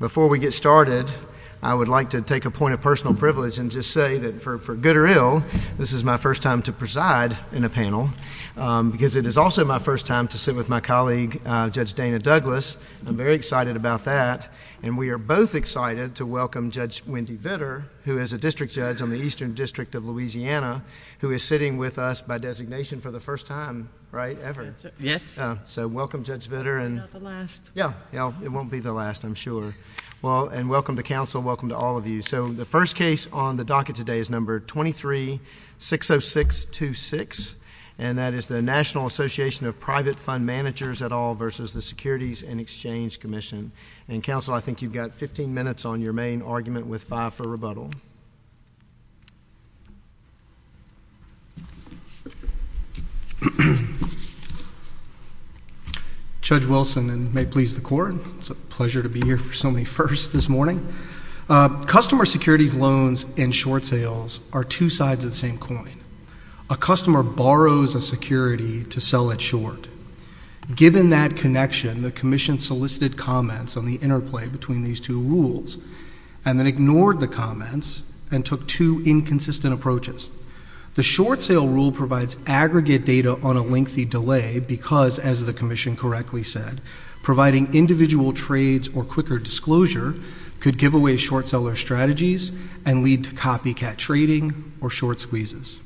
Before we get started, I would like to take a point of personal privilege and just say that for good or ill, this is my first time to preside in a panel, because it is also my first time to sit with my colleague, Judge Dana Douglas. I'm very excited about that. And we are both excited to welcome Judge Wendy Vitter, who is a district judge on the Eastern District of Louisiana, who is sitting with us by designation for the first time, right, ever. Yes. So welcome, Judge Vitter. I'm not the last. Yeah. It won't be the last, I'm sure. Well, and welcome to Council. Welcome to all of you. So the first case on the docket today is No. 23-60626, and that is the National Association of Private Fund Managers et al. v. the Securities and Exchange Commission. And, Council, I think you've got 15 minutes on your main argument with five for rebuttal. Judge Wilson, and may it please the Court, it's a pleasure to be here for so many firsts this morning. Customer securities loans and short sales are two sides of the same coin. A customer borrows a security to sell it short. Given that connection, the Commission solicited comments on the interplay between these two rules, and then ignored the comments, and the Commission took two inconsistent approaches. The short sale rule provides aggregate data on a lengthy delay because, as the Commission correctly said, providing individual trades or quicker disclosure could give away short seller strategies and lead to copycat trading or short squeezes.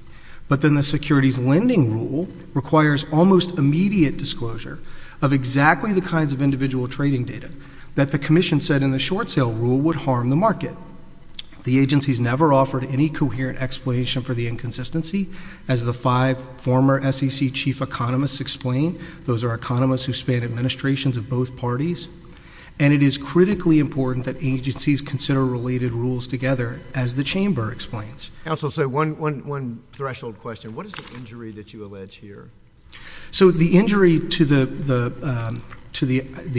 But then the securities lending rule requires almost immediate disclosure of exactly the kinds of individual trading data that the Commission said in the short sale rule would harm the market. The agencies never offered any coherent explanation for the inconsistency, as the five former SEC chief economists explained. Those are economists who span administrations of both parties. And it is critically important that agencies consider related rules together, as the Chamber explains. Counsel, so one threshold question. What is the injury that you allege here? So the injury to the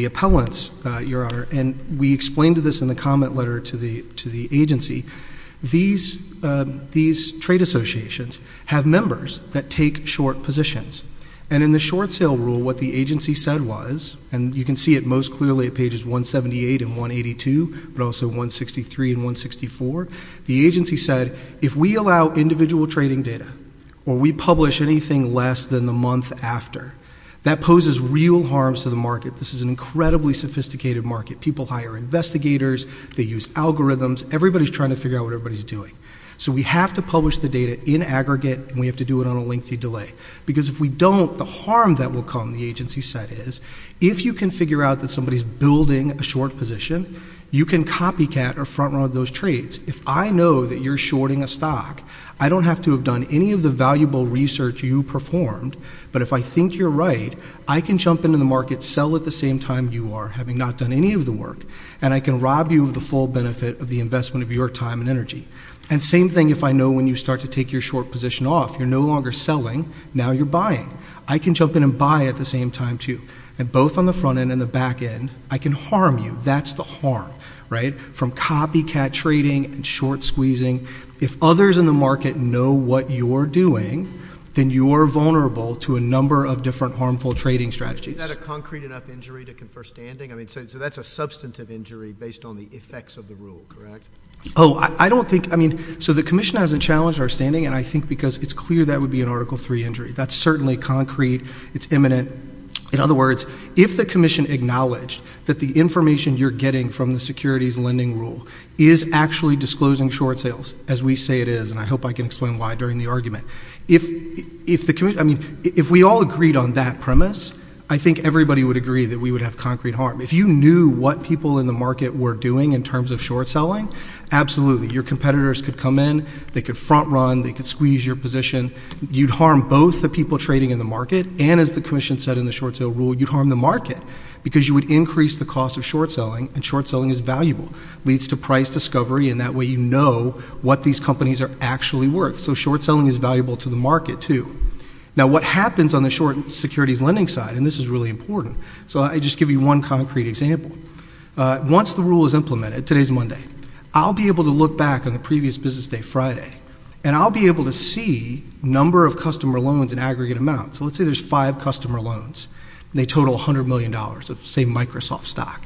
appellants, Your Honor, and we explained this in the comment letter to the agency. These trade associations have members that take short positions. And in the short sale rule, what the agency said was, and you can see it most clearly at pages 178 and 182, but also 163 and 164, the agency said, if we allow individual trading data, or we publish anything less than the month after, that poses real harms to the market. This is an incredibly sophisticated market. People hire investigators. They use algorithms. Everybody's trying to figure out what everybody's doing. So we have to publish the data in aggregate, and we have to do it on a lengthy delay. Because if we don't, the harm that will come, the agency said, is if you can figure out that somebody's building a short position, you can copycat or front-run those trades. If I know that you're shorting a stock, I don't have to have done any of the valuable research you performed, but if I think you're right, I can jump into the market, sell at the time you are, having not done any of the work, and I can rob you of the full benefit of the investment of your time and energy. And same thing if I know when you start to take your short position off. You're no longer selling. Now you're buying. I can jump in and buy at the same time, too. And both on the front end and the back end, I can harm you. That's the harm, right, from copycat trading and short squeezing. If others in the market know what you're doing, then you're vulnerable to a number of different harmful trading strategies. Is that a concrete enough injury to confer standing? I mean, so that's a substantive injury based on the effects of the rule, correct? Oh, I don't think — I mean, so the Commission hasn't challenged our standing, and I think because it's clear that would be an Article III injury. That's certainly concrete. It's imminent. In other words, if the Commission acknowledged that the information you're getting from the securities lending rule is actually disclosing short sales, as we say it is, and I hope I can explain why during the argument. If we all agreed on that premise, I think everybody would agree that we would have concrete harm. If you knew what people in the market were doing in terms of short selling, absolutely. Your competitors could come in. They could front run. They could squeeze your position. You'd harm both the people trading in the market and, as the Commission said in the short sale rule, you'd harm the market because you would increase the cost of short selling, and short selling is valuable. It leads to price discovery, and that way you know what these companies are actually worth. So short selling is valuable to the market, too. Now, what happens on the short securities lending side, and this is really important, so I'll just give you one concrete example. Once the rule is implemented — today's Monday — I'll be able to look back on the previous business day, Friday, and I'll be able to see number of customer loans in aggregate amounts. So let's say there's five customer loans, and they total $100 million of, say, Microsoft stock.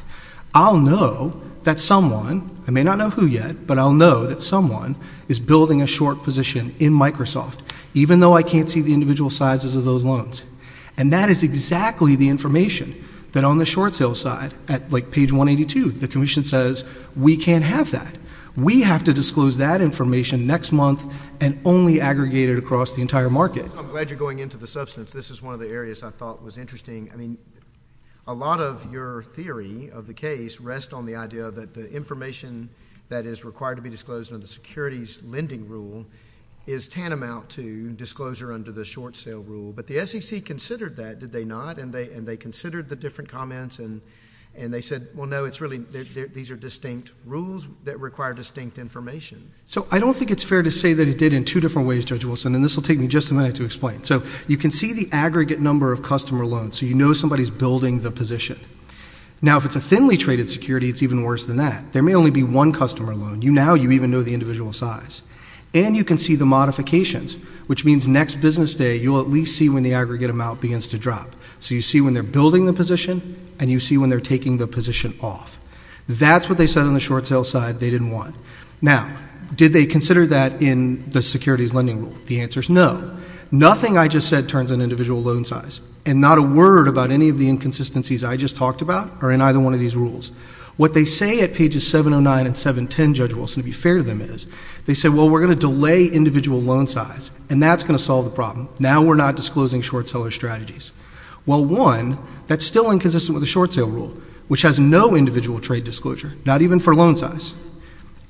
I'll know that someone — I may not know who yet, but I'll know that someone is building a short position in Microsoft, even though I can't see the individual sizes of those loans. And that is exactly the information that, on the short sale side, at, like, page 182, the Commission says, we can't have that. We have to disclose that information next month and only aggregate it across the entire market. I'm glad you're going into the substance. This is one of the areas I thought was interesting. I mean, a lot of your theory of the case rests on the idea that the information that is required to be disclosed under the securities lending rule is tantamount to disclosure under the short sale rule, but the SEC considered that, did they not? And they considered the different comments, and they said, well, no, these are distinct rules that require distinct information. So I don't think it's fair to say that it did in two different ways, Judge Wilson, and this will take me just a minute to explain. So you can see the aggregate number of customer loans, so you know somebody's building the position. Now, if it's a thinly traded security, it's even worse than that. There may only be one customer loan. Now you even know the individual size. And you can see the modifications, which means next business day, you'll at least see when the aggregate amount begins to drop. So you see when they're building the position, and you see when they're taking the position off. That's what they said on the short sale side they didn't want. Now, did they consider that in the securities lending rule? The answer is no. Nothing I just said turns on individual loan and not a word about any of the inconsistencies I just talked about are in either one of these rules. What they say at pages 709 and 710, Judge Wilson, to be fair to them is, they say, well, we're going to delay individual loan size, and that's going to solve the problem. Now we're not disclosing short seller strategies. Well, one, that's still inconsistent with the short sale rule, which has no individual trade disclosure, not even for loan size.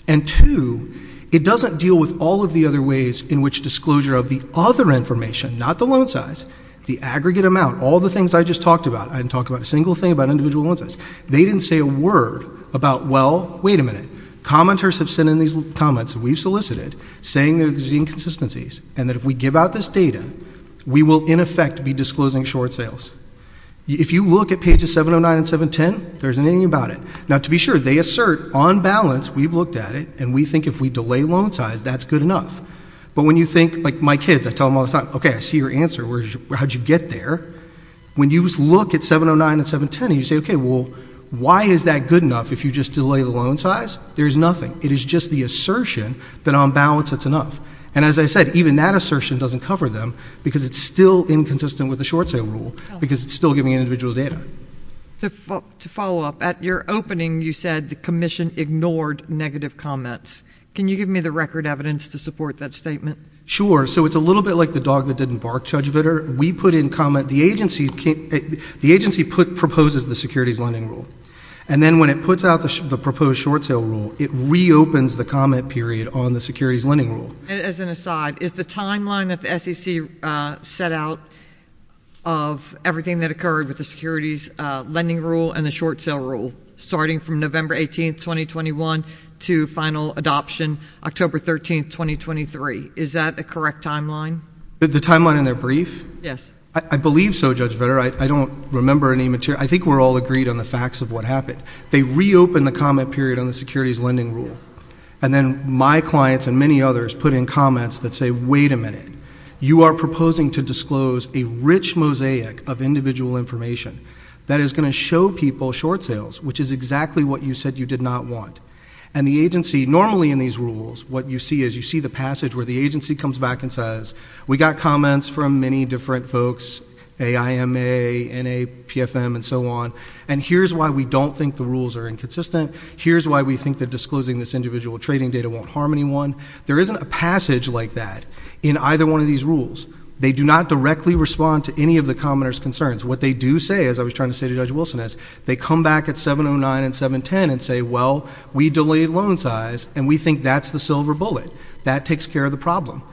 And two, it doesn't deal with all of the other ways in which disclosure of the other information, not the loan size, the aggregate amount, all the things I just talked about. I didn't talk about a single thing about individual loan size. They didn't say a word about, well, wait a minute. Commenters have sent in these comments that we've solicited saying there's inconsistencies, and that if we give out this data, we will, in effect, be disclosing short sales. If you look at pages 709 and 710, there's nothing about it. Now, to be sure, they assert, on balance, we've looked at it, and we think if we delay loan size, that's good enough. But when you think, like my kids, I tell them, how did you get there? When you look at 709 and 710, you say, okay, well, why is that good enough if you just delay the loan size? There's nothing. It is just the assertion that on balance it's enough. And as I said, even that assertion doesn't cover them, because it's still inconsistent with the short sale rule, because it's still giving individual data. To follow up, at your opening, you said the Commission ignored negative comments. Can you give me the record evidence to support that statement? Sure. So it's a little bit like the dog that didn't bark, Judge Vitter, the agency proposes the securities lending rule. And then when it puts out the proposed short sale rule, it reopens the comment period on the securities lending rule. As an aside, is the timeline that the SEC set out of everything that occurred with the securities lending rule and the short sale rule, starting from November 18th, 2021, to final adoption October 13th, 2023, is that a correct timeline? The timeline in their brief? Yes. I believe so, Judge Vitter. I don't remember any material. I think we're all agreed on the facts of what happened. They reopened the comment period on the securities lending rule. And then my clients and many others put in comments that say, wait a minute, you are proposing to disclose a rich mosaic of individual information that is going to show people short sales, which is exactly what you said you did not want. And the agency, normally in these rules, what you see is you see the passage where the agency comes back and says, we got comments from many different folks, AIMA, NAPFM, and so on, and here's why we don't think the rules are inconsistent. Here's why we think that disclosing this individual trading data won't harm anyone. There isn't a passage like that in either one of these rules. They do not directly respond to any of the commenter's concerns. What they do say, as I was and say, well, we delayed loan size, and we think that's the silver bullet. That takes care of the problem.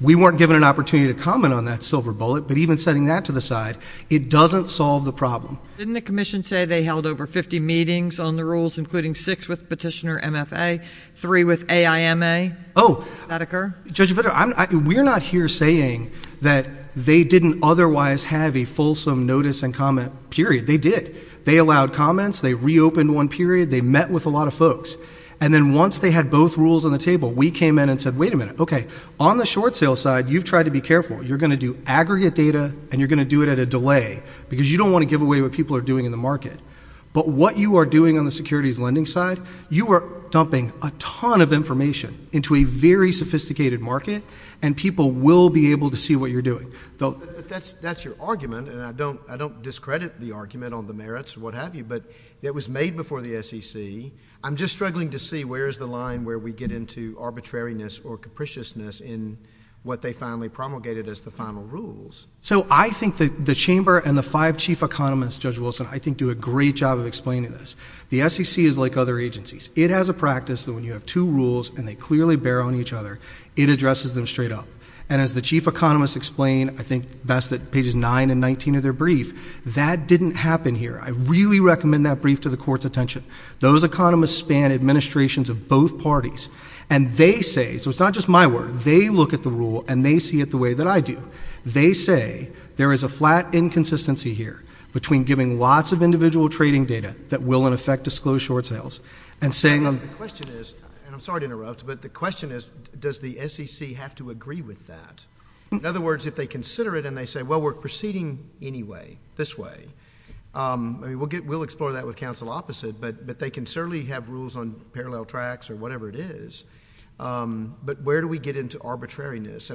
We weren't given an opportunity to comment on that silver bullet, but even setting that to the side, it doesn't solve the problem. Didn't the commission say they held over 50 meetings on the rules, including six with petitioner MFA, three with AIMA? Oh. Judge Vitter, we're not here saying that they didn't otherwise have a fulsome notice and comment period. They did. They allowed comments. They reopened one period. They met with a lot of folks, and then once they had both rules on the table, we came in and said, wait a minute, okay, on the short sale side, you've tried to be careful. You're going to do aggregate data, and you're going to do it at a delay because you don't want to give away what people are doing in the market, but what you are doing on the securities lending side, you are dumping a ton of information into a very sophisticated market, and people will be able to see what you're doing. That's your argument, and I don't discredit the argument on the merits or what have you, but it was made before the SEC. I'm just struggling to see where is the line where we get into arbitrariness or capriciousness in what they finally promulgated as the final rules. So I think the chamber and the five chief economists, Judge Wilson, I think do a great job of explaining this. The SEC is like other agencies. It has a practice that when you have two rules and they clearly bear on each other, it addresses them straight up, and as the chief economists explain, I think best at pages 9 and 19 of their brief, that didn't happen here. I really recommend that brief to the court's attention. Those economists span administrations of both parties, and they say, so it's not just my word, they look at the rule and they see it the way that I do. They say there is a flat inconsistency here between giving lots of individual trading data that will, in effect, disclose short sales and saying— The question is, and I'm sorry to interrupt, but the question is, does the SEC have to agree with that? In other words, if they consider it and they say, well, we're proceeding this way, we'll explore that with counsel opposite, but they can certainly have rules on parallel tracks or whatever it is, but where do we get into arbitrariness?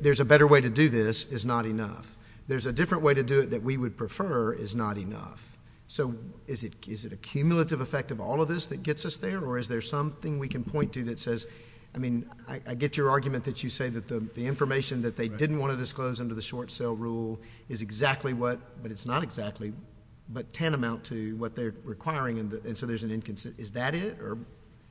There's a better way to do this is not enough. There's a different way to do it that we would prefer is not enough. So is it a cumulative effect of all of this that gets us there, or is there something we can point to that says—I mean, I get your argument that you say that the information that they didn't want to disclose under the short sale rule is exactly what, but it's not exactly, but tantamount to what they're requiring, and so there's an inconsistency. Is that it?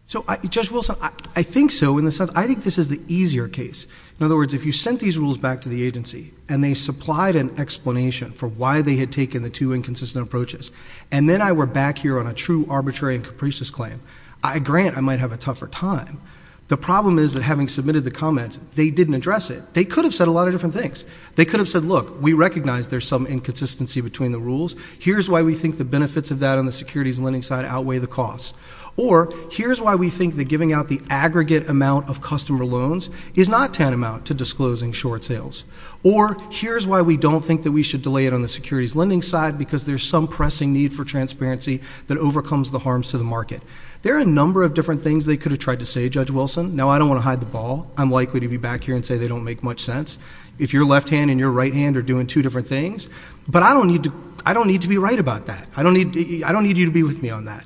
So, Judge Wilson, I think so. I think this is the easier case. In other words, if you sent these rules back to the agency and they supplied an explanation for why they had taken the two inconsistent approaches, and then I were back here on a true arbitrary and capricious claim, I grant I might have a tougher time. The problem is that having submitted the comments, they didn't address it. They could have said a lot of different things. They could have said, look, we recognize there's some inconsistency between the rules. Here's why we think the benefits of that on the securities lending side outweigh the costs, or here's why we think that giving out the aggregate amount of customer loans is not tantamount to disclosing short sales, or here's why we don't think that we should delay it on the securities lending side because there's some pressing need for transparency that overcomes the harms to the market. There are a number of different things they could have tried to say, Judge Wilson. Now, I don't want to hide the ball. I'm likely to be back here and say they don't make much sense. If your left hand and your right hand are doing two different things, but I don't need to be right about that. I don't need you to be with me on that.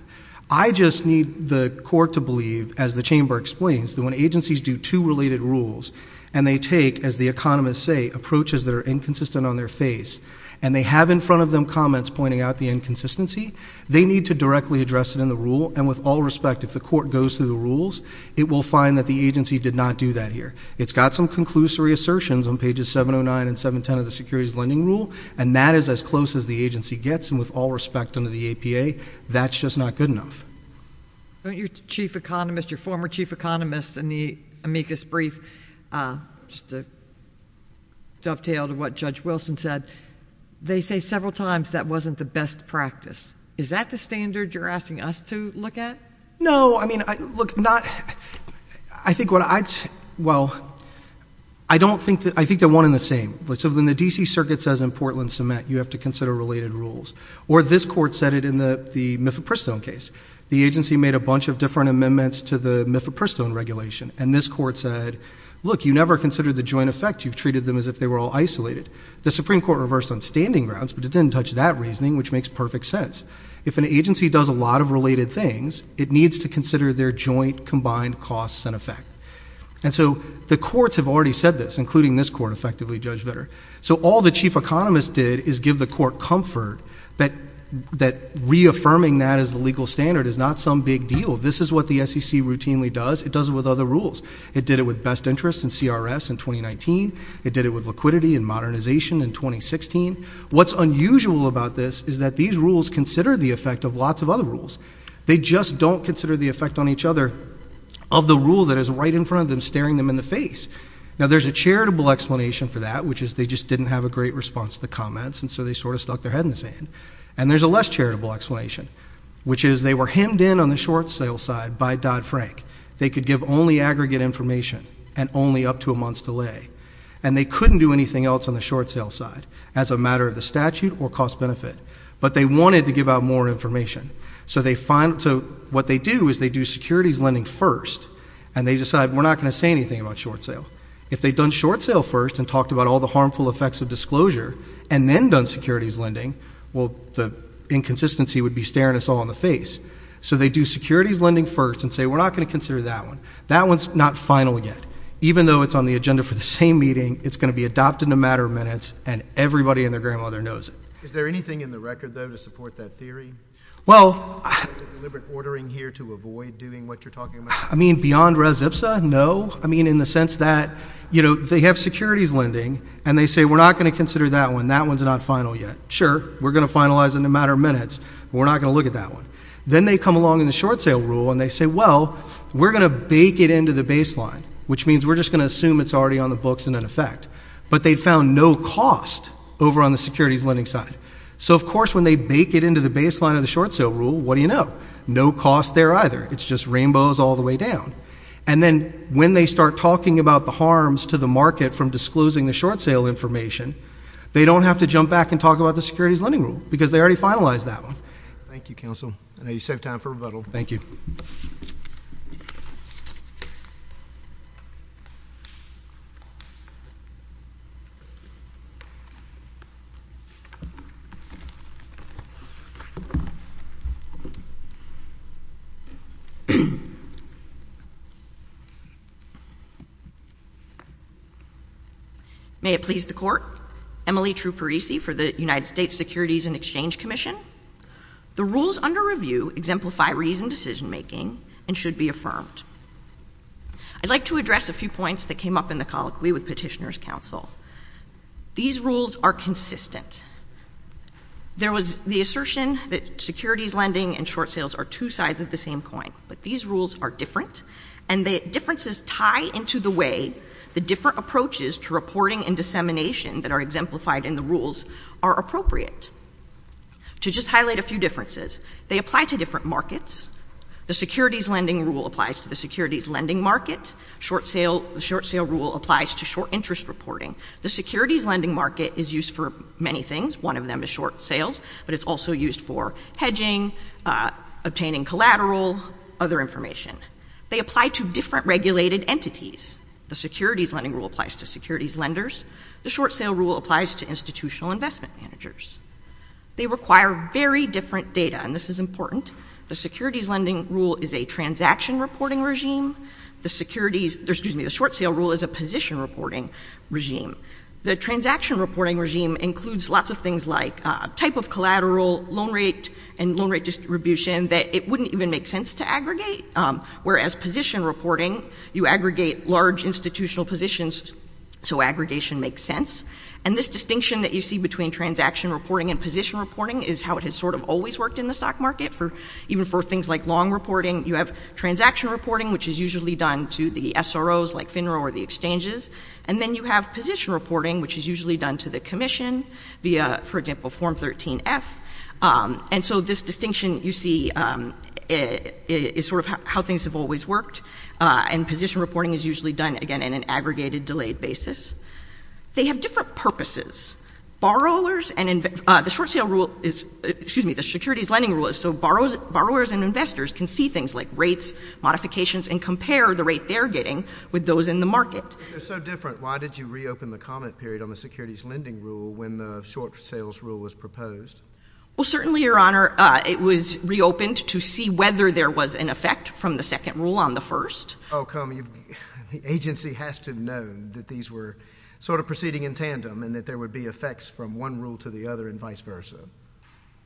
I just need the court to believe, as the chamber explains, that when agencies do two related rules and they take, as the economists say, approaches that are inconsistent on their face and they have in front of them comments pointing out the inconsistency, they need to directly address it in the rule, and with all respect, if the court goes through the rules, it will find that the agency did not do that here. It's got some conclusory assertions on pages 709 and 710 of the securities lending rule, and that is as close as the agency gets, and with all respect under the APA, that's just not good enough. Your chief economist, your former chief said, they say several times that wasn't the best practice. Is that the standard you're asking us to look at? No, I mean, look, not, I think what I'd say, well, I don't think, I think they're one and the same. So when the D.C. Circuit says in Portland cement, you have to consider related rules, or this court said it in the Miffitt-Pristone case. The agency made a bunch of different amendments to the Miffitt-Pristone regulation, and this court said, look, you never considered the joint effect. You've treated them as if they were all isolated. The Supreme Court reversed on standing grounds, but it didn't touch that reasoning, which makes perfect sense. If an agency does a lot of related things, it needs to consider their joint combined costs and effect, and so the courts have already said this, including this court, effectively, Judge Vitter. So all the chief economist did is give the court comfort that reaffirming that as the legal standard is not some big deal. This is what the SEC routinely does. It does it with other rules. It did it with best interest and CRS in 2019. It did it with liquidity and modernization in 2016. What's unusual about this is that these rules consider the effect of lots of other rules. They just don't consider the effect on each other of the rule that is right in front of them, staring them in the face. Now, there's a charitable explanation for that, which is they just didn't have a great response to the comments, and so they sort of stuck their head in the sand, and there's a less charitable explanation, which is they were hemmed in on the short sale side by Dodd-Frank. They could give only aggregate information and only up to a month's delay, and they couldn't do anything else on the short sale side as a matter of the statute or cost-benefit, but they wanted to give out more information. So what they do is they do securities lending first, and they decide we're not going to say anything about short sale. If they'd done short sale first and talked about all the harmful effects of disclosure and then done securities lending, well, the inconsistency would be staring us all in the face. So they do securities lending first and say we're not going to consider that one. That one's not final yet. Even though it's on the agenda for the same meeting, it's going to be adopted in a matter of minutes, and everybody and their grandmother knows it. Is there anything in the record, though, to support that theory? Well, I mean, beyond res ipsa? No. I mean, in the sense that, you know, they have securities lending, and they say we're not going to consider that one. That one's not final yet. Sure, we're going to finalize in a matter of minutes, but we're not going to look at that one. Then they come along in the short sale rule, and they say, well, we're going to bake it into the baseline, which means we're just going to assume it's already on the books and in effect. But they found no cost over on the securities lending side. So, of course, when they bake it into the baseline of the short sale rule, what do you know? No cost there either. It's just rainbows all the way down. And then when they start talking about the harms to the market from disclosing the short sale information, they don't have to jump back and talk about the securities lending rule, because they already finalized that one. Thank you, counsel. I know you saved time for rebuttal. Thank you. May it please the Court. Emily Truparisi for the United States Securities and Exchange Commission. The rules under review exemplify reasoned decision-making and should be affirmed. I'd like to address a few points that came up in the colloquy with Petitioner's counsel. These rules are consistent. There was the assertion that securities lending and short sales are two sides of the same coin, but these rules are different, and the differences tie into the way the different approaches to reporting and dissemination that are exemplified in the rules are appropriate. To just highlight a few differences, they apply to different markets. The securities lending rule applies to the securities lending market. The short sale rule applies to short interest reporting. The securities lending market is used for many things. One of them is short sales, but it's also used for hedging, obtaining collateral, other information. They apply to different regulated entities. The securities lending rule applies to securities lenders. The short sale rule applies to institutional investment managers. They require very different data, and this is important. The securities lending rule is a transaction reporting regime. The securities—excuse me, the short sale rule is a position reporting regime. The transaction reporting regime includes lots of things like type of collateral, loan rate, and loan rate distribution that it wouldn't even make sense to aggregate, whereas position reporting, you aggregate large institutional positions so aggregation makes sense, and this distinction that you see between transaction reporting and position reporting is how it has sort of always worked in the stock market. Even for things like long reporting, you have transaction reporting, which is usually done to the SROs like FINRA or the exchanges, and then you have position reporting, which is usually done to the commission via, for example, Form 13-F, and so this distinction you see is sort of how things have always worked, and position reporting is usually done, again, in an aggregated, delayed basis. They have different purposes. Borrowers and—the short sale rule is—excuse me, the securities lending rule is so borrowers and investors can see things like rates, modifications, and compare the rate they're getting with those in the market. They're so different. Why did you reopen the comment period on the securities lending rule when the short sales rule was proposed? Well, certainly, Your Honor, it was reopened to see whether there was an effect from the second rule on the first. How come the agency has to know that these were sort of proceeding in tandem and that there would be effects from one rule to the other and vice versa?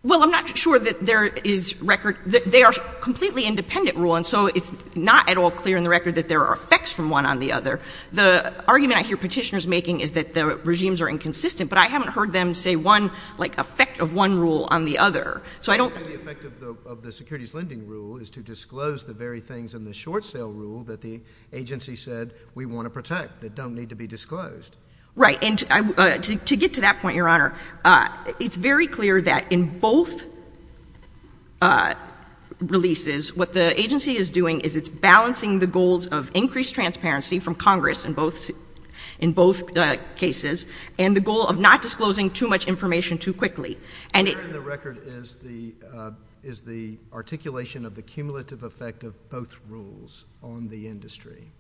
Well, I'm not sure that there is record—they are a completely independent rule, and so it's not at all clear in the record that there are effects from one on the other. The argument I hear petitioners making is that the regimes are inconsistent, but I haven't heard them say one, like, effect of one rule on the other. So I don't— I'm saying the effect of the securities lending rule is to disclose the very things in the short sale rule that the agency said we want to protect that don't need to be disclosed. Right. And to get to that point, Your Honor, it's very clear that in both releases, what the agency is doing is it's balancing the goals of increased transparency from Congress in both cases and the goal of not disclosing too much information too quickly. And it— And the record is the articulation of the cumulative effect of both rules on the industry.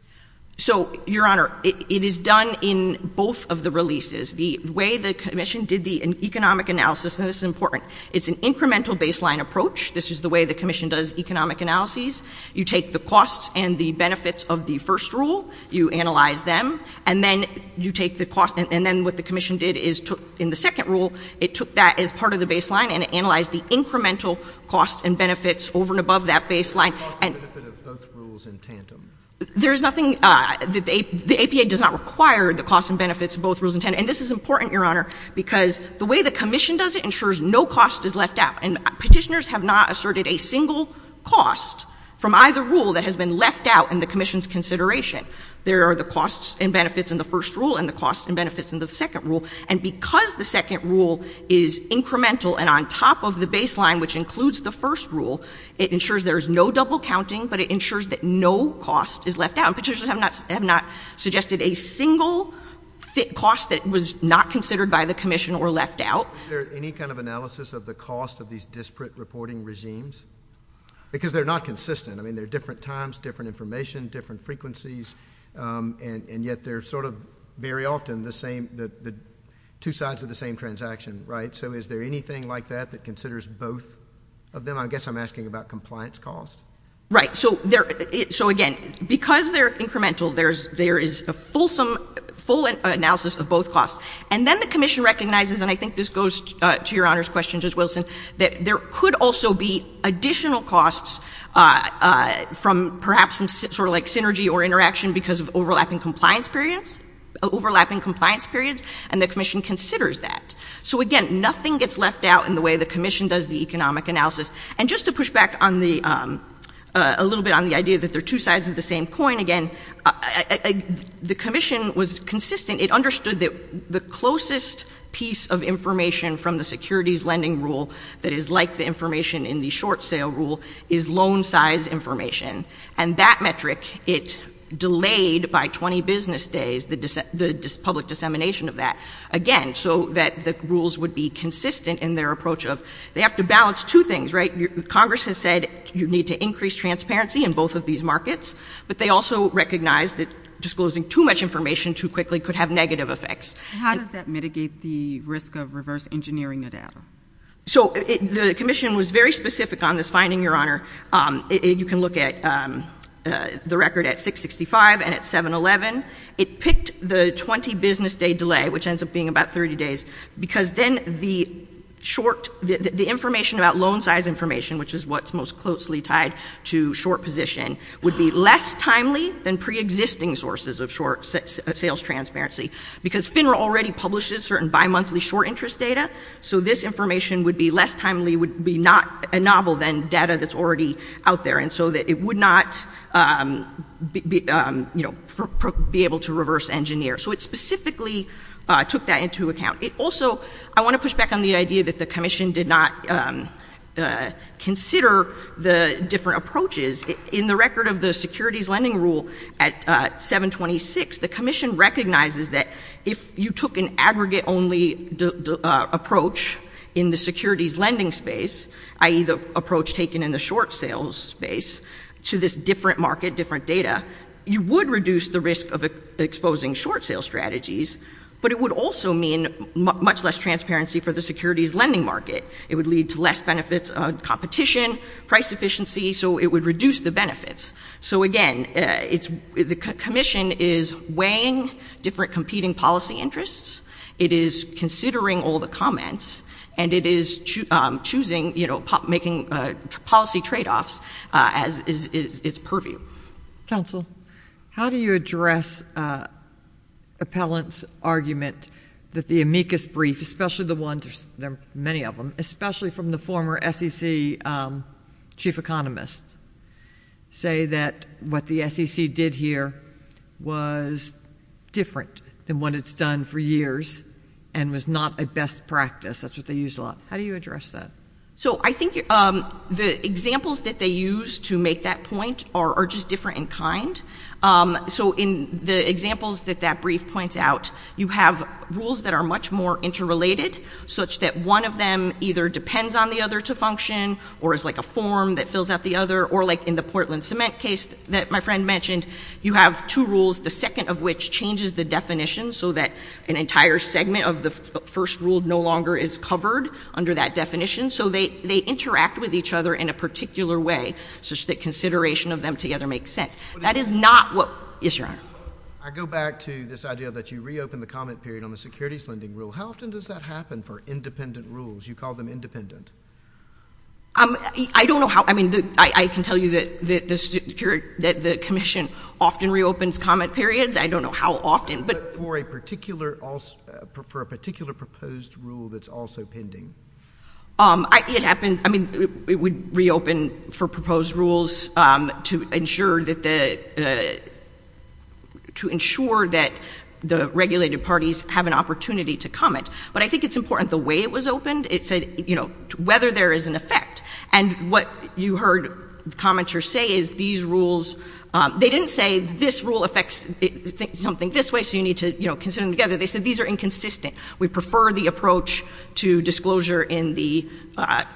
So, Your Honor, it is done in both of the releases. The way the Commission did the economic analysis—and this is important—it's an incremental baseline approach. This is the way the Commission does economic analyses. You take the costs and the benefits of the first rule, you analyze them, and then you take the cost—and then what the Commission did is took—in the second rule, it took that as part of the baseline and it analyzed the incremental costs and benefits over and above that baseline. The cost and benefit of both rules in tantum. There is nothing—the APA does not require the costs and benefits of both rules in tantum. And this is important, Your Honor, because the way the Commission does it ensures no cost is left out. And Petitioners have not asserted a single cost from either rule that has been left out in the Commission's consideration. There are the costs and benefits in the first rule and the costs and benefits in the second rule. And because the second rule is incremental and on top of the baseline, which includes the first rule, it ensures there is no double counting, but it ensures that no cost is left out. And Petitioners have not suggested a single cost that was not considered by the Commission or left out. Is there any kind of analysis of the cost of these disparate reporting regimes? Because they're not consistent. I mean, they're different times, different information, different frequencies, and yet they're sort of very often the same — the two sides of the same transaction, right? So is there anything like that that considers both of them? I guess I'm asking about compliance costs. Right. So there — so again, because they're incremental, there is a fulsome — full analysis of both costs. And then the Commission recognizes, and I think this goes to Your Honor's question, Justice Wilson, that there could also be additional costs from perhaps some sort of like synergy or interaction because of overlapping compliance periods — overlapping compliance periods, and the Commission considers that. So again, nothing gets left out in the way the Commission does the economic analysis. And just to push back on the — a little bit on the idea that they're two sides of the same coin, again, the Commission was consistent. It understood that the closest piece of information from the securities lending rule that is like the information in the short sale rule is loan size information. And that metric, it delayed by 20 business days the public dissemination of that, again, so that the rules would be consistent in their approach of — they have to balance two things, right? Congress has said you need to increase transparency in both of these markets, but they also recognized that disclosing too much information too quickly could have negative effects. How does that mitigate the risk of reverse engineering the data? So the Commission was very specific on this finding, Your Honor. You can look at the record at 665 and at 711. It picked the 20 business day delay, which ends up being about 30 days, because then the short — the information about loan size information, which is what's most tied to short position, would be less timely than preexisting sources of short sales transparency. Because FINRA already publishes certain bimonthly short interest data, so this information would be less timely, would be not — novel than data that's already out there. And so it would not be able to reverse engineer. So it specifically took that into account. Also, I want to push back on the idea that the Commission did not consider the different approaches. In the record of the securities lending rule at 726, the Commission recognizes that if you took an aggregate-only approach in the securities lending space, i.e. the approach taken in the short sales space, to this different market, different data, you would reduce the risk of exposing short sales strategies, but it would also mean much less transparency for the securities lending market. It would lead to less benefits on competition, price efficiency, so it would reduce the benefits. So again, it's — the Commission is weighing different competing policy interests, it is considering all the comments, and it is choosing, you know, making policy tradeoffs as its purview. Counsel, how do you address Appellant's argument that the amicus brief, especially the ones — there are many of them — especially from the former SEC chief economist, say that what the SEC did here was different than what it's done for years and was not a best practice? That's what they used a So I think the examples that they used to make that point are just different in kind. So in the examples that that brief points out, you have rules that are much more interrelated, such that one of them either depends on the other to function, or is like a form that fills out the other, or like in the Portland Cement case that my friend mentioned, you have two rules, the second of which changes the definition so that an entire segment of the first rule no longer is covered under that definition. So they interact with each other in a particular way, such that consideration of them together makes sense. That is not what — yes, Your Honor. I go back to this idea that you reopen the comment period on the securities lending rule. How often does that happen for independent rules? You call them independent. I don't know how — I mean, I can tell you that the Commission often reopens comment periods. I don't know how often, but — But for a particular — for a particular proposed rule that's also pending? It happens — I mean, it would reopen for proposed rules to ensure that the — to ensure that the regulated parties have an opportunity to comment. But I think it's important the way it was opened. It said, you know, whether there is an effect. And what you heard commenters say is these rules — they didn't say this rule affects something this way, so you need to, you know, consider them together. They said these are inconsistent. We prefer the approach to disclosure in the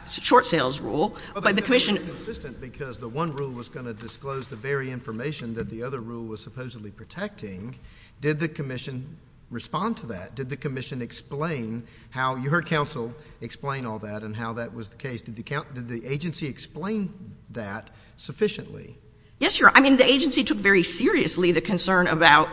short sales rule, but the Commission — Well, they said they were inconsistent because the one rule was going to disclose the very information that the other rule was supposedly protecting. Did the Commission respond to that? Did the Commission explain how — you heard counsel explain all that and how that was the case. Did the agency explain that sufficiently? Yes, Your Honor. I mean, the agency took very seriously the concern about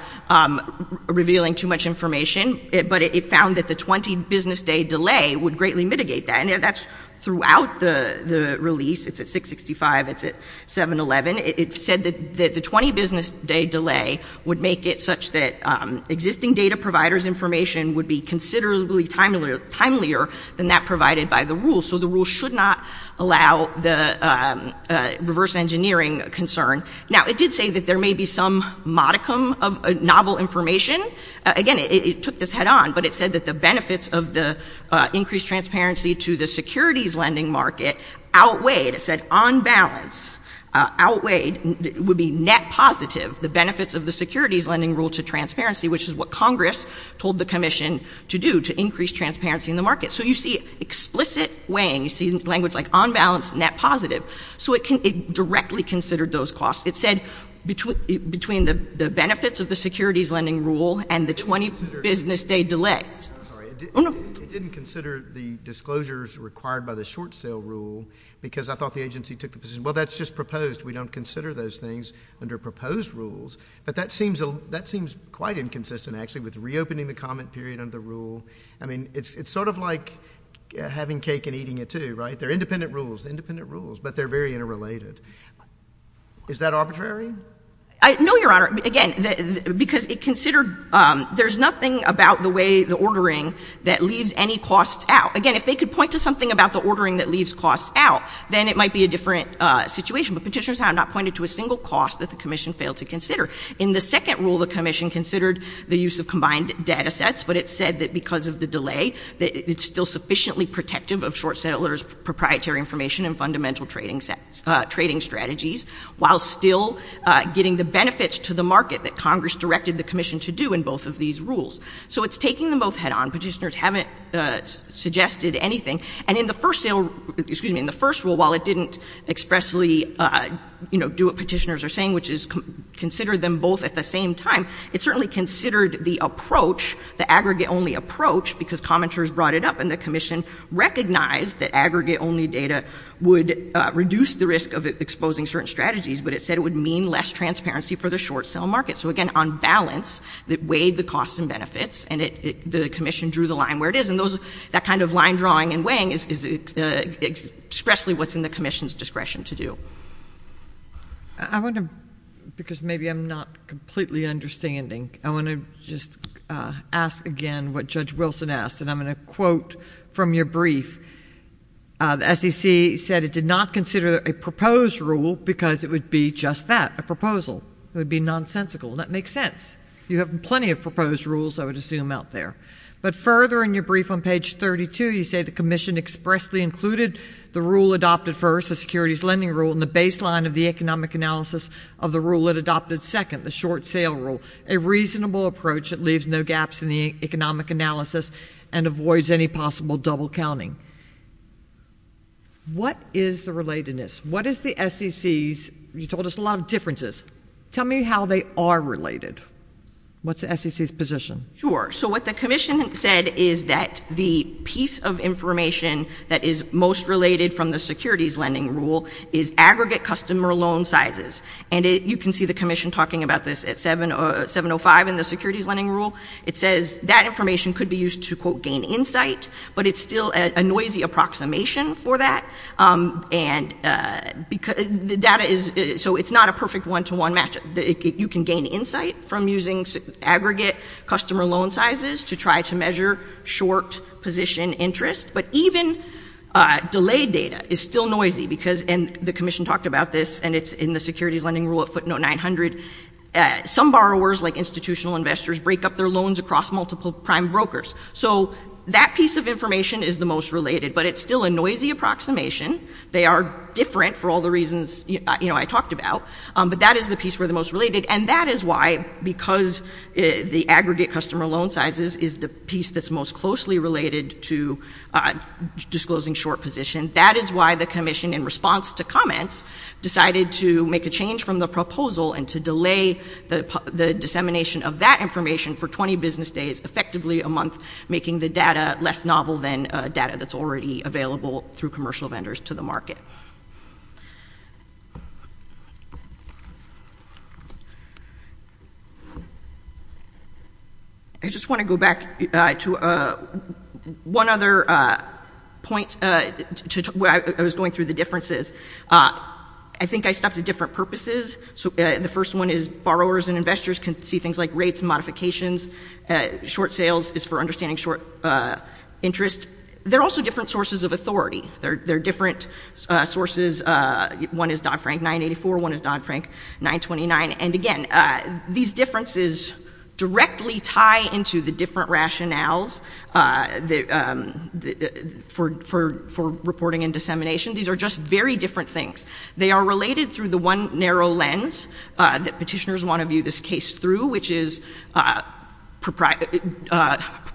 revealing too much information, but it found that the 20-business-day delay would greatly mitigate that. And that's throughout the release. It's at 665. It's at 711. It said that the 20-business-day delay would make it such that existing data providers' information would be considerably timelier than that provided by the rule. So the rule should not allow the reverse engineering concern. Now, it did say that there may be some modicum of novel information. Again, it took this head-on, but it said that the benefits of the increased transparency to the securities lending market outweighed — it said on balance outweighed — would be net positive the benefits of the securities lending rule to transparency, which is what Congress told the Commission to do, to increase transparency in the market. So you see explicit weighing. You see language like on balance, net positive. So it directly considered those costs. It said between the benefits of the securities lending rule and the 20-business-day delay. I'm sorry. It didn't consider the disclosures required by the short sale rule because I thought the agency took the position, well, that's just proposed. We don't consider those things under proposed rules. But that seems quite inconsistent, actually, with reopening the comment period under the rule. I mean, it's sort of like having cake and eating it, too, right? They're independent rules, independent rules, but they're very interrelated. Is that arbitrary? No, Your Honor. Again, because it considered — there's nothing about the way the ordering that leaves any costs out. Again, if they could point to something about the ordering that leaves costs out, then it might be a different situation. But Petitioner's time not pointed to a single cost that the Commission failed to consider. In the second rule, the Commission considered the use of combined data sets, but it said that because of the delay, that it's still protective of short sellers' proprietary information and fundamental trading strategies, while still getting the benefits to the market that Congress directed the Commission to do in both of these rules. So it's taking them both head-on. Petitioners haven't suggested anything. And in the first sale — excuse me, in the first rule, while it didn't expressly, you know, do what petitioners are saying, which is consider them both at the same time, it certainly considered the approach, the aggregate-only approach, because commenters brought it up, and the Commission recognized that aggregate-only data would reduce the risk of exposing certain strategies, but it said it would mean less transparency for the short-sell market. So again, on balance, it weighed the costs and benefits, and the Commission drew the line where it is. And that kind of line drawing and weighing is expressly what's in the Commission's discretion to do. I want to — because maybe I'm not completely understanding — I want to just ask again what Judge Wilson asked, and I'm going to quote from your brief. The SEC said it did not consider a proposed rule because it would be just that, a proposal. It would be nonsensical. That makes sense. You have plenty of proposed rules, I would assume, out there. But further in your brief on page 32, you say the Commission expressly included the rule adopted first, the securities lending rule, in the baseline of the economic analysis of the rule it adopted second, the short-sale rule, a reasonable approach that leaves no gaps in the economic analysis and avoids any possible double-counting. What is the relatedness? What is the SEC's — you told us a lot of differences. Tell me how they are related. What's the SEC's position? Sure. So what the Commission said is that the piece of information that is most related from the securities lending rule is aggregate customer loan sizes. And you can see the Commission talking about this at 7.05 in the securities lending rule. It says that information could be used to, quote, gain insight, but it's still a noisy approximation for that. And the data is — so it's not a perfect one-to-one match. You can gain insight from using aggregate customer loan sizes to try to measure short position interest. But even delayed data is still noisy because — and the Commission talked about this, and it's in the securities lending rule at footnote 900. Some borrowers, like institutional investors, break up their loans across multiple prime brokers. So that piece of information is the most related, but it's still a noisy approximation. They are different for all the reasons, you know, I talked about. But that is the piece we're the most related. And that is why, because the aggregate customer loan sizes is the piece that's most closely related to disclosing short position, that is why the Commission, in response to comments, decided to make a change from the proposal and to delay the dissemination of that information for 20 business days, effectively a month, making the data less novel than data that's already available through commercial vendors to market. I just want to go back to one other point where I was going through the differences. I think I stopped at different purposes. So the first one is borrowers and investors can see things like rates and modifications. Short sales is for understanding short interest. There are also different sources of authority. There are different sources. One is Dodd-Frank 984. One is Dodd-Frank 929. And again, these differences directly tie into the different rationales for reporting and dissemination. These are just very different things. They are related through the one narrow lens that petitioners want to view this case through, which is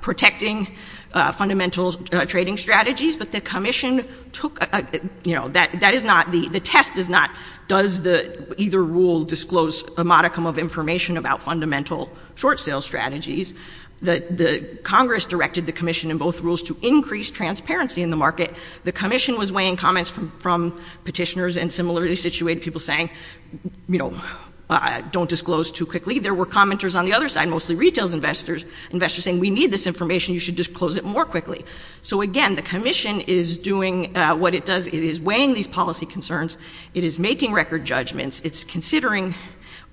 protecting fundamental trading strategies. But the Commission took, you know, that is not, the test is not does either rule disclose a modicum of information about fundamental short sales strategies. The Congress directed the Commission in both rules to increase transparency in the market. The Commission was weighing comments from petitioners and similarly situated people saying, you know, don't disclose too quickly. There were commenters on the other side, mostly retail investors, saying we need this information. You should disclose it more quickly. So again, the Commission is doing what it does. It is weighing these policy concerns. It is making record judgments. It's considering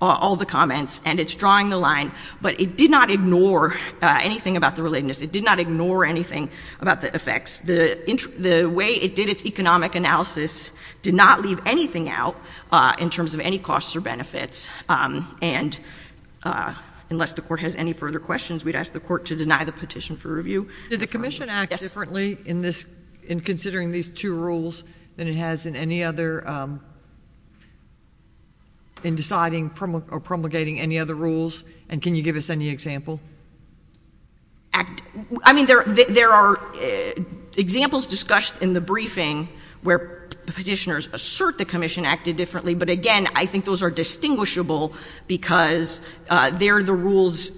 all the comments and it's drawing the line. But it did not ignore anything about the relatedness. It did not ignore anything about the effects. The way it did its economic analysis did not leave anything out in terms of any costs or benefits. And unless the Court has any further questions, we'd ask the Court to deny the petition for review. Did the Commission act differently in this, in considering these two rules than it has in any other, in deciding or promulgating any other rules? And can you give us any example? Act, I mean, there are examples discussed in the briefing where petitioners assert the Commission acted differently. But again, I think those are distinguishable because they're the rules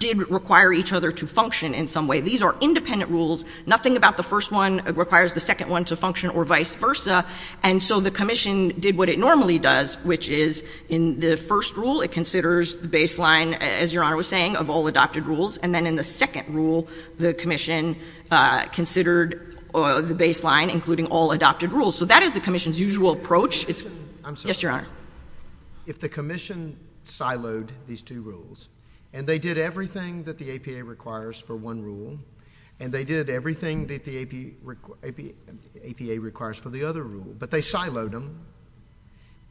did require each other to function in some way. These are independent rules. Nothing about the first one requires the second one to function or vice versa. And so the Commission did what it normally does, which is in the first rule, it considers the baseline, as Your Honor was saying, of all adopted rules. And then in the second rule, the Commission considered the baseline, including all adopted rules. So that is the Commission's usual approach. It's... I'm sorry. Yes, Your Honor. If the Commission siloed these two rules and they did everything that the APA requires for one rule and they did everything that the APA requires for the other rule, but they siloed them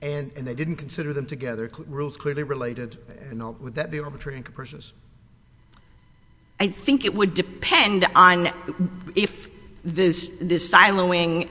and they didn't consider them together, rules clearly related, and would that be arbitrary and capricious? I think it would depend on if the siloing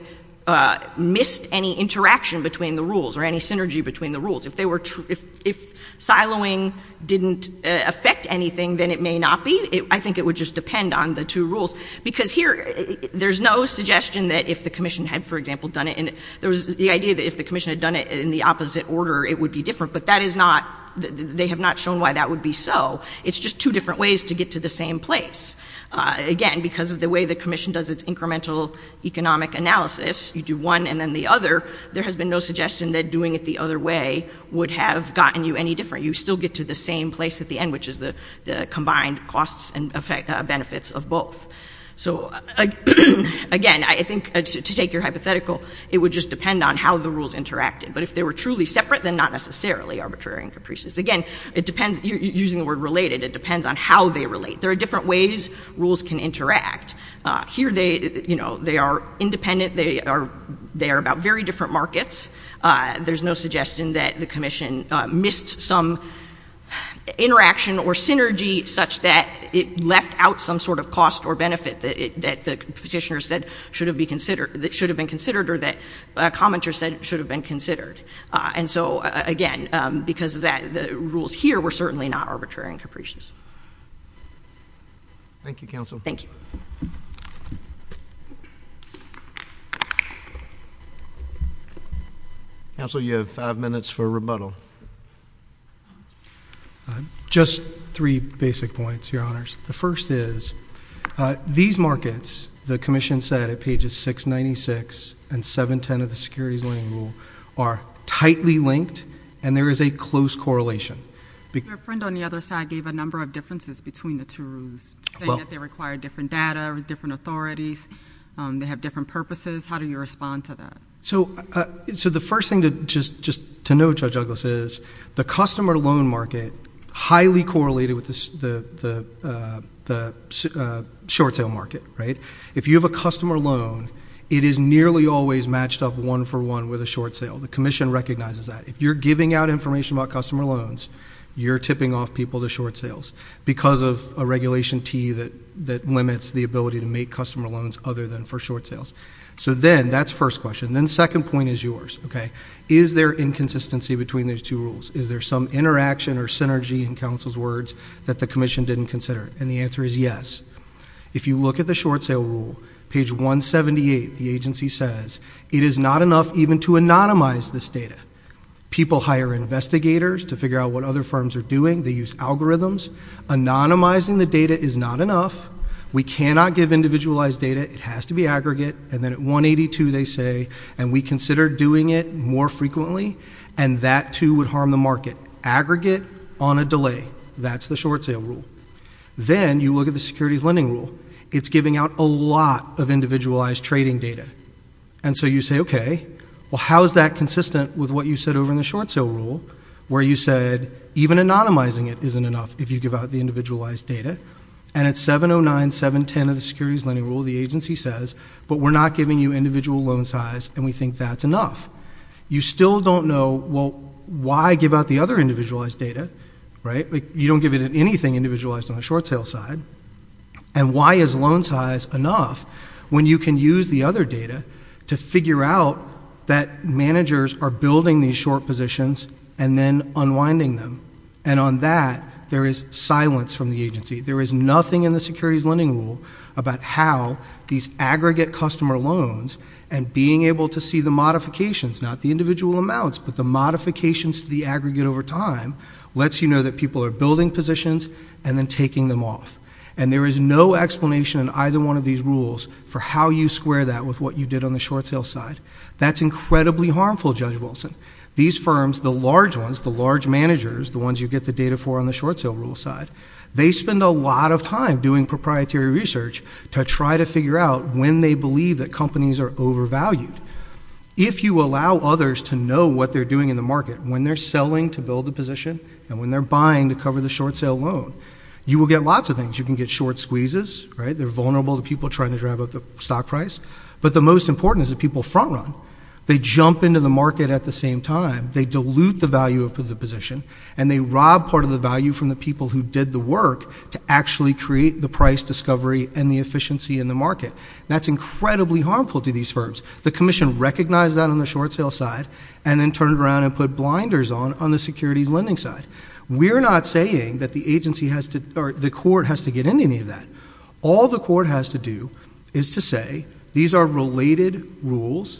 missed any interaction between the rules or any synergy between the rules. If they were, if siloing didn't affect anything, then it may not be. I think it would just depend on the two rules. Because here, there's no suggestion that if the Commission had, for example, done it, there was the idea that if the Commission had done it in the opposite order, it would be different. But that is not, they have not shown why that would be so. It's just two different ways to get to the same place. Again, because of the way the Commission does its incremental economic analysis, you do one and then the other, there has been no suggestion that doing it the other way would have gotten you any different. You still get to the same place at the end, which is the combined costs and benefits of both. So again, I think, to take your hypothetical, it would just depend on how the rules interacted. But if they were truly separate, then not necessarily arbitrary and capricious. Again, it depends, using the word related, it depends on how they relate. There are different ways rules can interact. Here, they are independent. They are about very different markets. There's no suggestion that the Commission missed some interaction or synergy such that it left out some sort of cost or benefit that the petitioner said should have been considered or that a commenter said should have been considered. And so again, because of that, the rules here were certainly not arbitrary and capricious. Thank you, Counsel. Thank you. Counsel, you have five minutes for rebuttal. Just three basic points, Your Honors. The first is, these markets, the Commission said at pages 696 and 710 of the Securities Lending Rule, are tightly linked, and there is a close correlation. Your friend on the other side gave a number of differences between the two rules, saying that they require different data, different authorities, they have different purposes. How do you respond to that? So the first thing to just to note, Judge Douglas, is that there are the customer loan market highly correlated with the short sale market, right? If you have a customer loan, it is nearly always matched up one for one with a short sale. The Commission recognizes that. If you're giving out information about customer loans, you're tipping off people to short sales because of a Regulation T that limits the ability to make customer loans other than for short sales. So then, that's first question. Then second point is yours, okay? Is there inconsistency between these two rules? Is there some interaction or synergy in counsel's words that the Commission didn't consider? And the answer is yes. If you look at the short sale rule, page 178, the agency says, it is not enough even to anonymize this data. People hire investigators to figure out what other firms are doing. They use algorithms. Anonymizing the data is not enough. We cannot give individualized data. It has to be aggregate. And then at 182, they say, and we consider doing it more frequently, and that too would harm the market. Aggregate on a delay. That's the short sale rule. Then you look at the securities lending rule. It's giving out a lot of individualized trading data. And so you say, okay, well, how is that consistent with what you said over in the short sale rule where you said even anonymizing it isn't enough if you give out the individualized data? And at 709, 710 of the securities lending rule, the agency says, but we're not giving you individual loan size, and we think that's enough. You still don't know, well, why give out the other individualized data, right? You don't give it anything individualized on the short sale side. And why is loan size enough when you can use the other data to figure out that managers are building these short positions and then unwinding them? And on that, there is silence from the and being able to see the modifications, not the individual amounts, but the modifications to the aggregate over time lets you know that people are building positions and then taking them off. And there is no explanation in either one of these rules for how you square that with what you did on the short sale side. That's incredibly harmful, Judge Wilson. These firms, the large ones, the large managers, the ones you get the data for on the short sale rule side, they spend a lot of time proprietary research to try to figure out when they believe that companies are overvalued. If you allow others to know what they're doing in the market, when they're selling to build a position and when they're buying to cover the short sale loan, you will get lots of things. You can get short squeezes, right? They're vulnerable to people trying to drive up the stock price. But the most important is that people front run. They jump into the market at the same time. They dilute the value of the position, and they rob part of the value from the people who did the work to actually create the price discovery and the efficiency in the market. That's incredibly harmful to these firms. The commission recognized that on the short sale side and then turned around and put blinders on on the securities lending side. We're not saying that the agency has to, or the court has to get into any of that. All the court has to do is to say, these are related rules.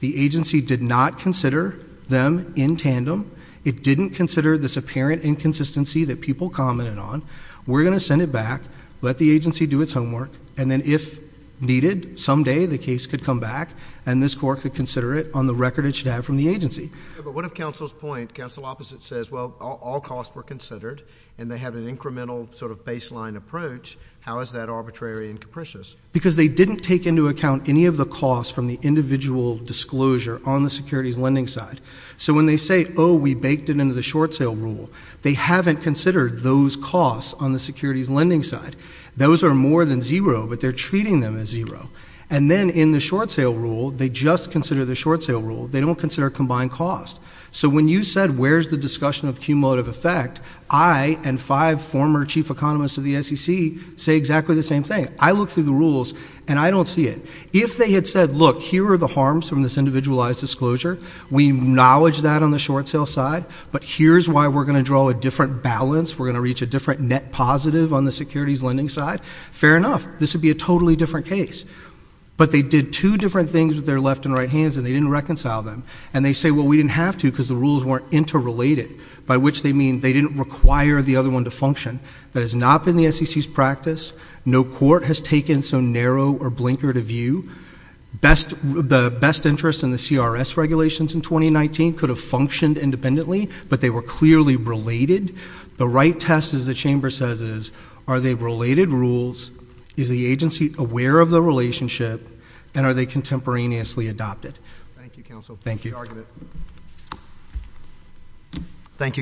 The agency did not consider them in tandem. It didn't consider this apparent inconsistency that people commented on. We're going to send it back, let the agency do its homework, and then, if needed, someday the case could come back, and this court could consider it on the record it should have from the agency. But what if counsel's point, counsel opposite says, well, all costs were considered, and they have an incremental sort of baseline approach, how is that arbitrary and capricious? Because they didn't take into account any of the costs from the individual disclosure on the securities lending side. So when they say, oh, we baked it into the short sale rule, they haven't considered those costs on the securities lending side. Those are more than zero, but they're treating them as zero. And then in the short sale rule, they just consider the short sale rule. They don't consider combined cost. So when you said, where's the discussion of cumulative effect, I and five former chief economists of the SEC say exactly the same thing. I look through the rules, and I don't see it. If they had said, look, here are the harms from this individualized disclosure, we acknowledge that on the short sale side, but here's why we're going to draw a different balance, we're going to reach a different net positive on the securities lending side, fair enough. This would be a totally different case. But they did two different things with their left and right hands, and they didn't reconcile them. And they say, well, we didn't have to because the rules weren't interrelated, by which they mean they didn't require the other one to function. That has not been the SEC's practice. No court has taken so narrow or blinkered a view. The best interest in the CRS regulations in 2019 could have functioned independently, but they were clearly related. The right test, as the chamber says, is are they related rules, is the agency aware of the relationship, and are they contemporaneously adopted? Thank you, counsel. Thank you.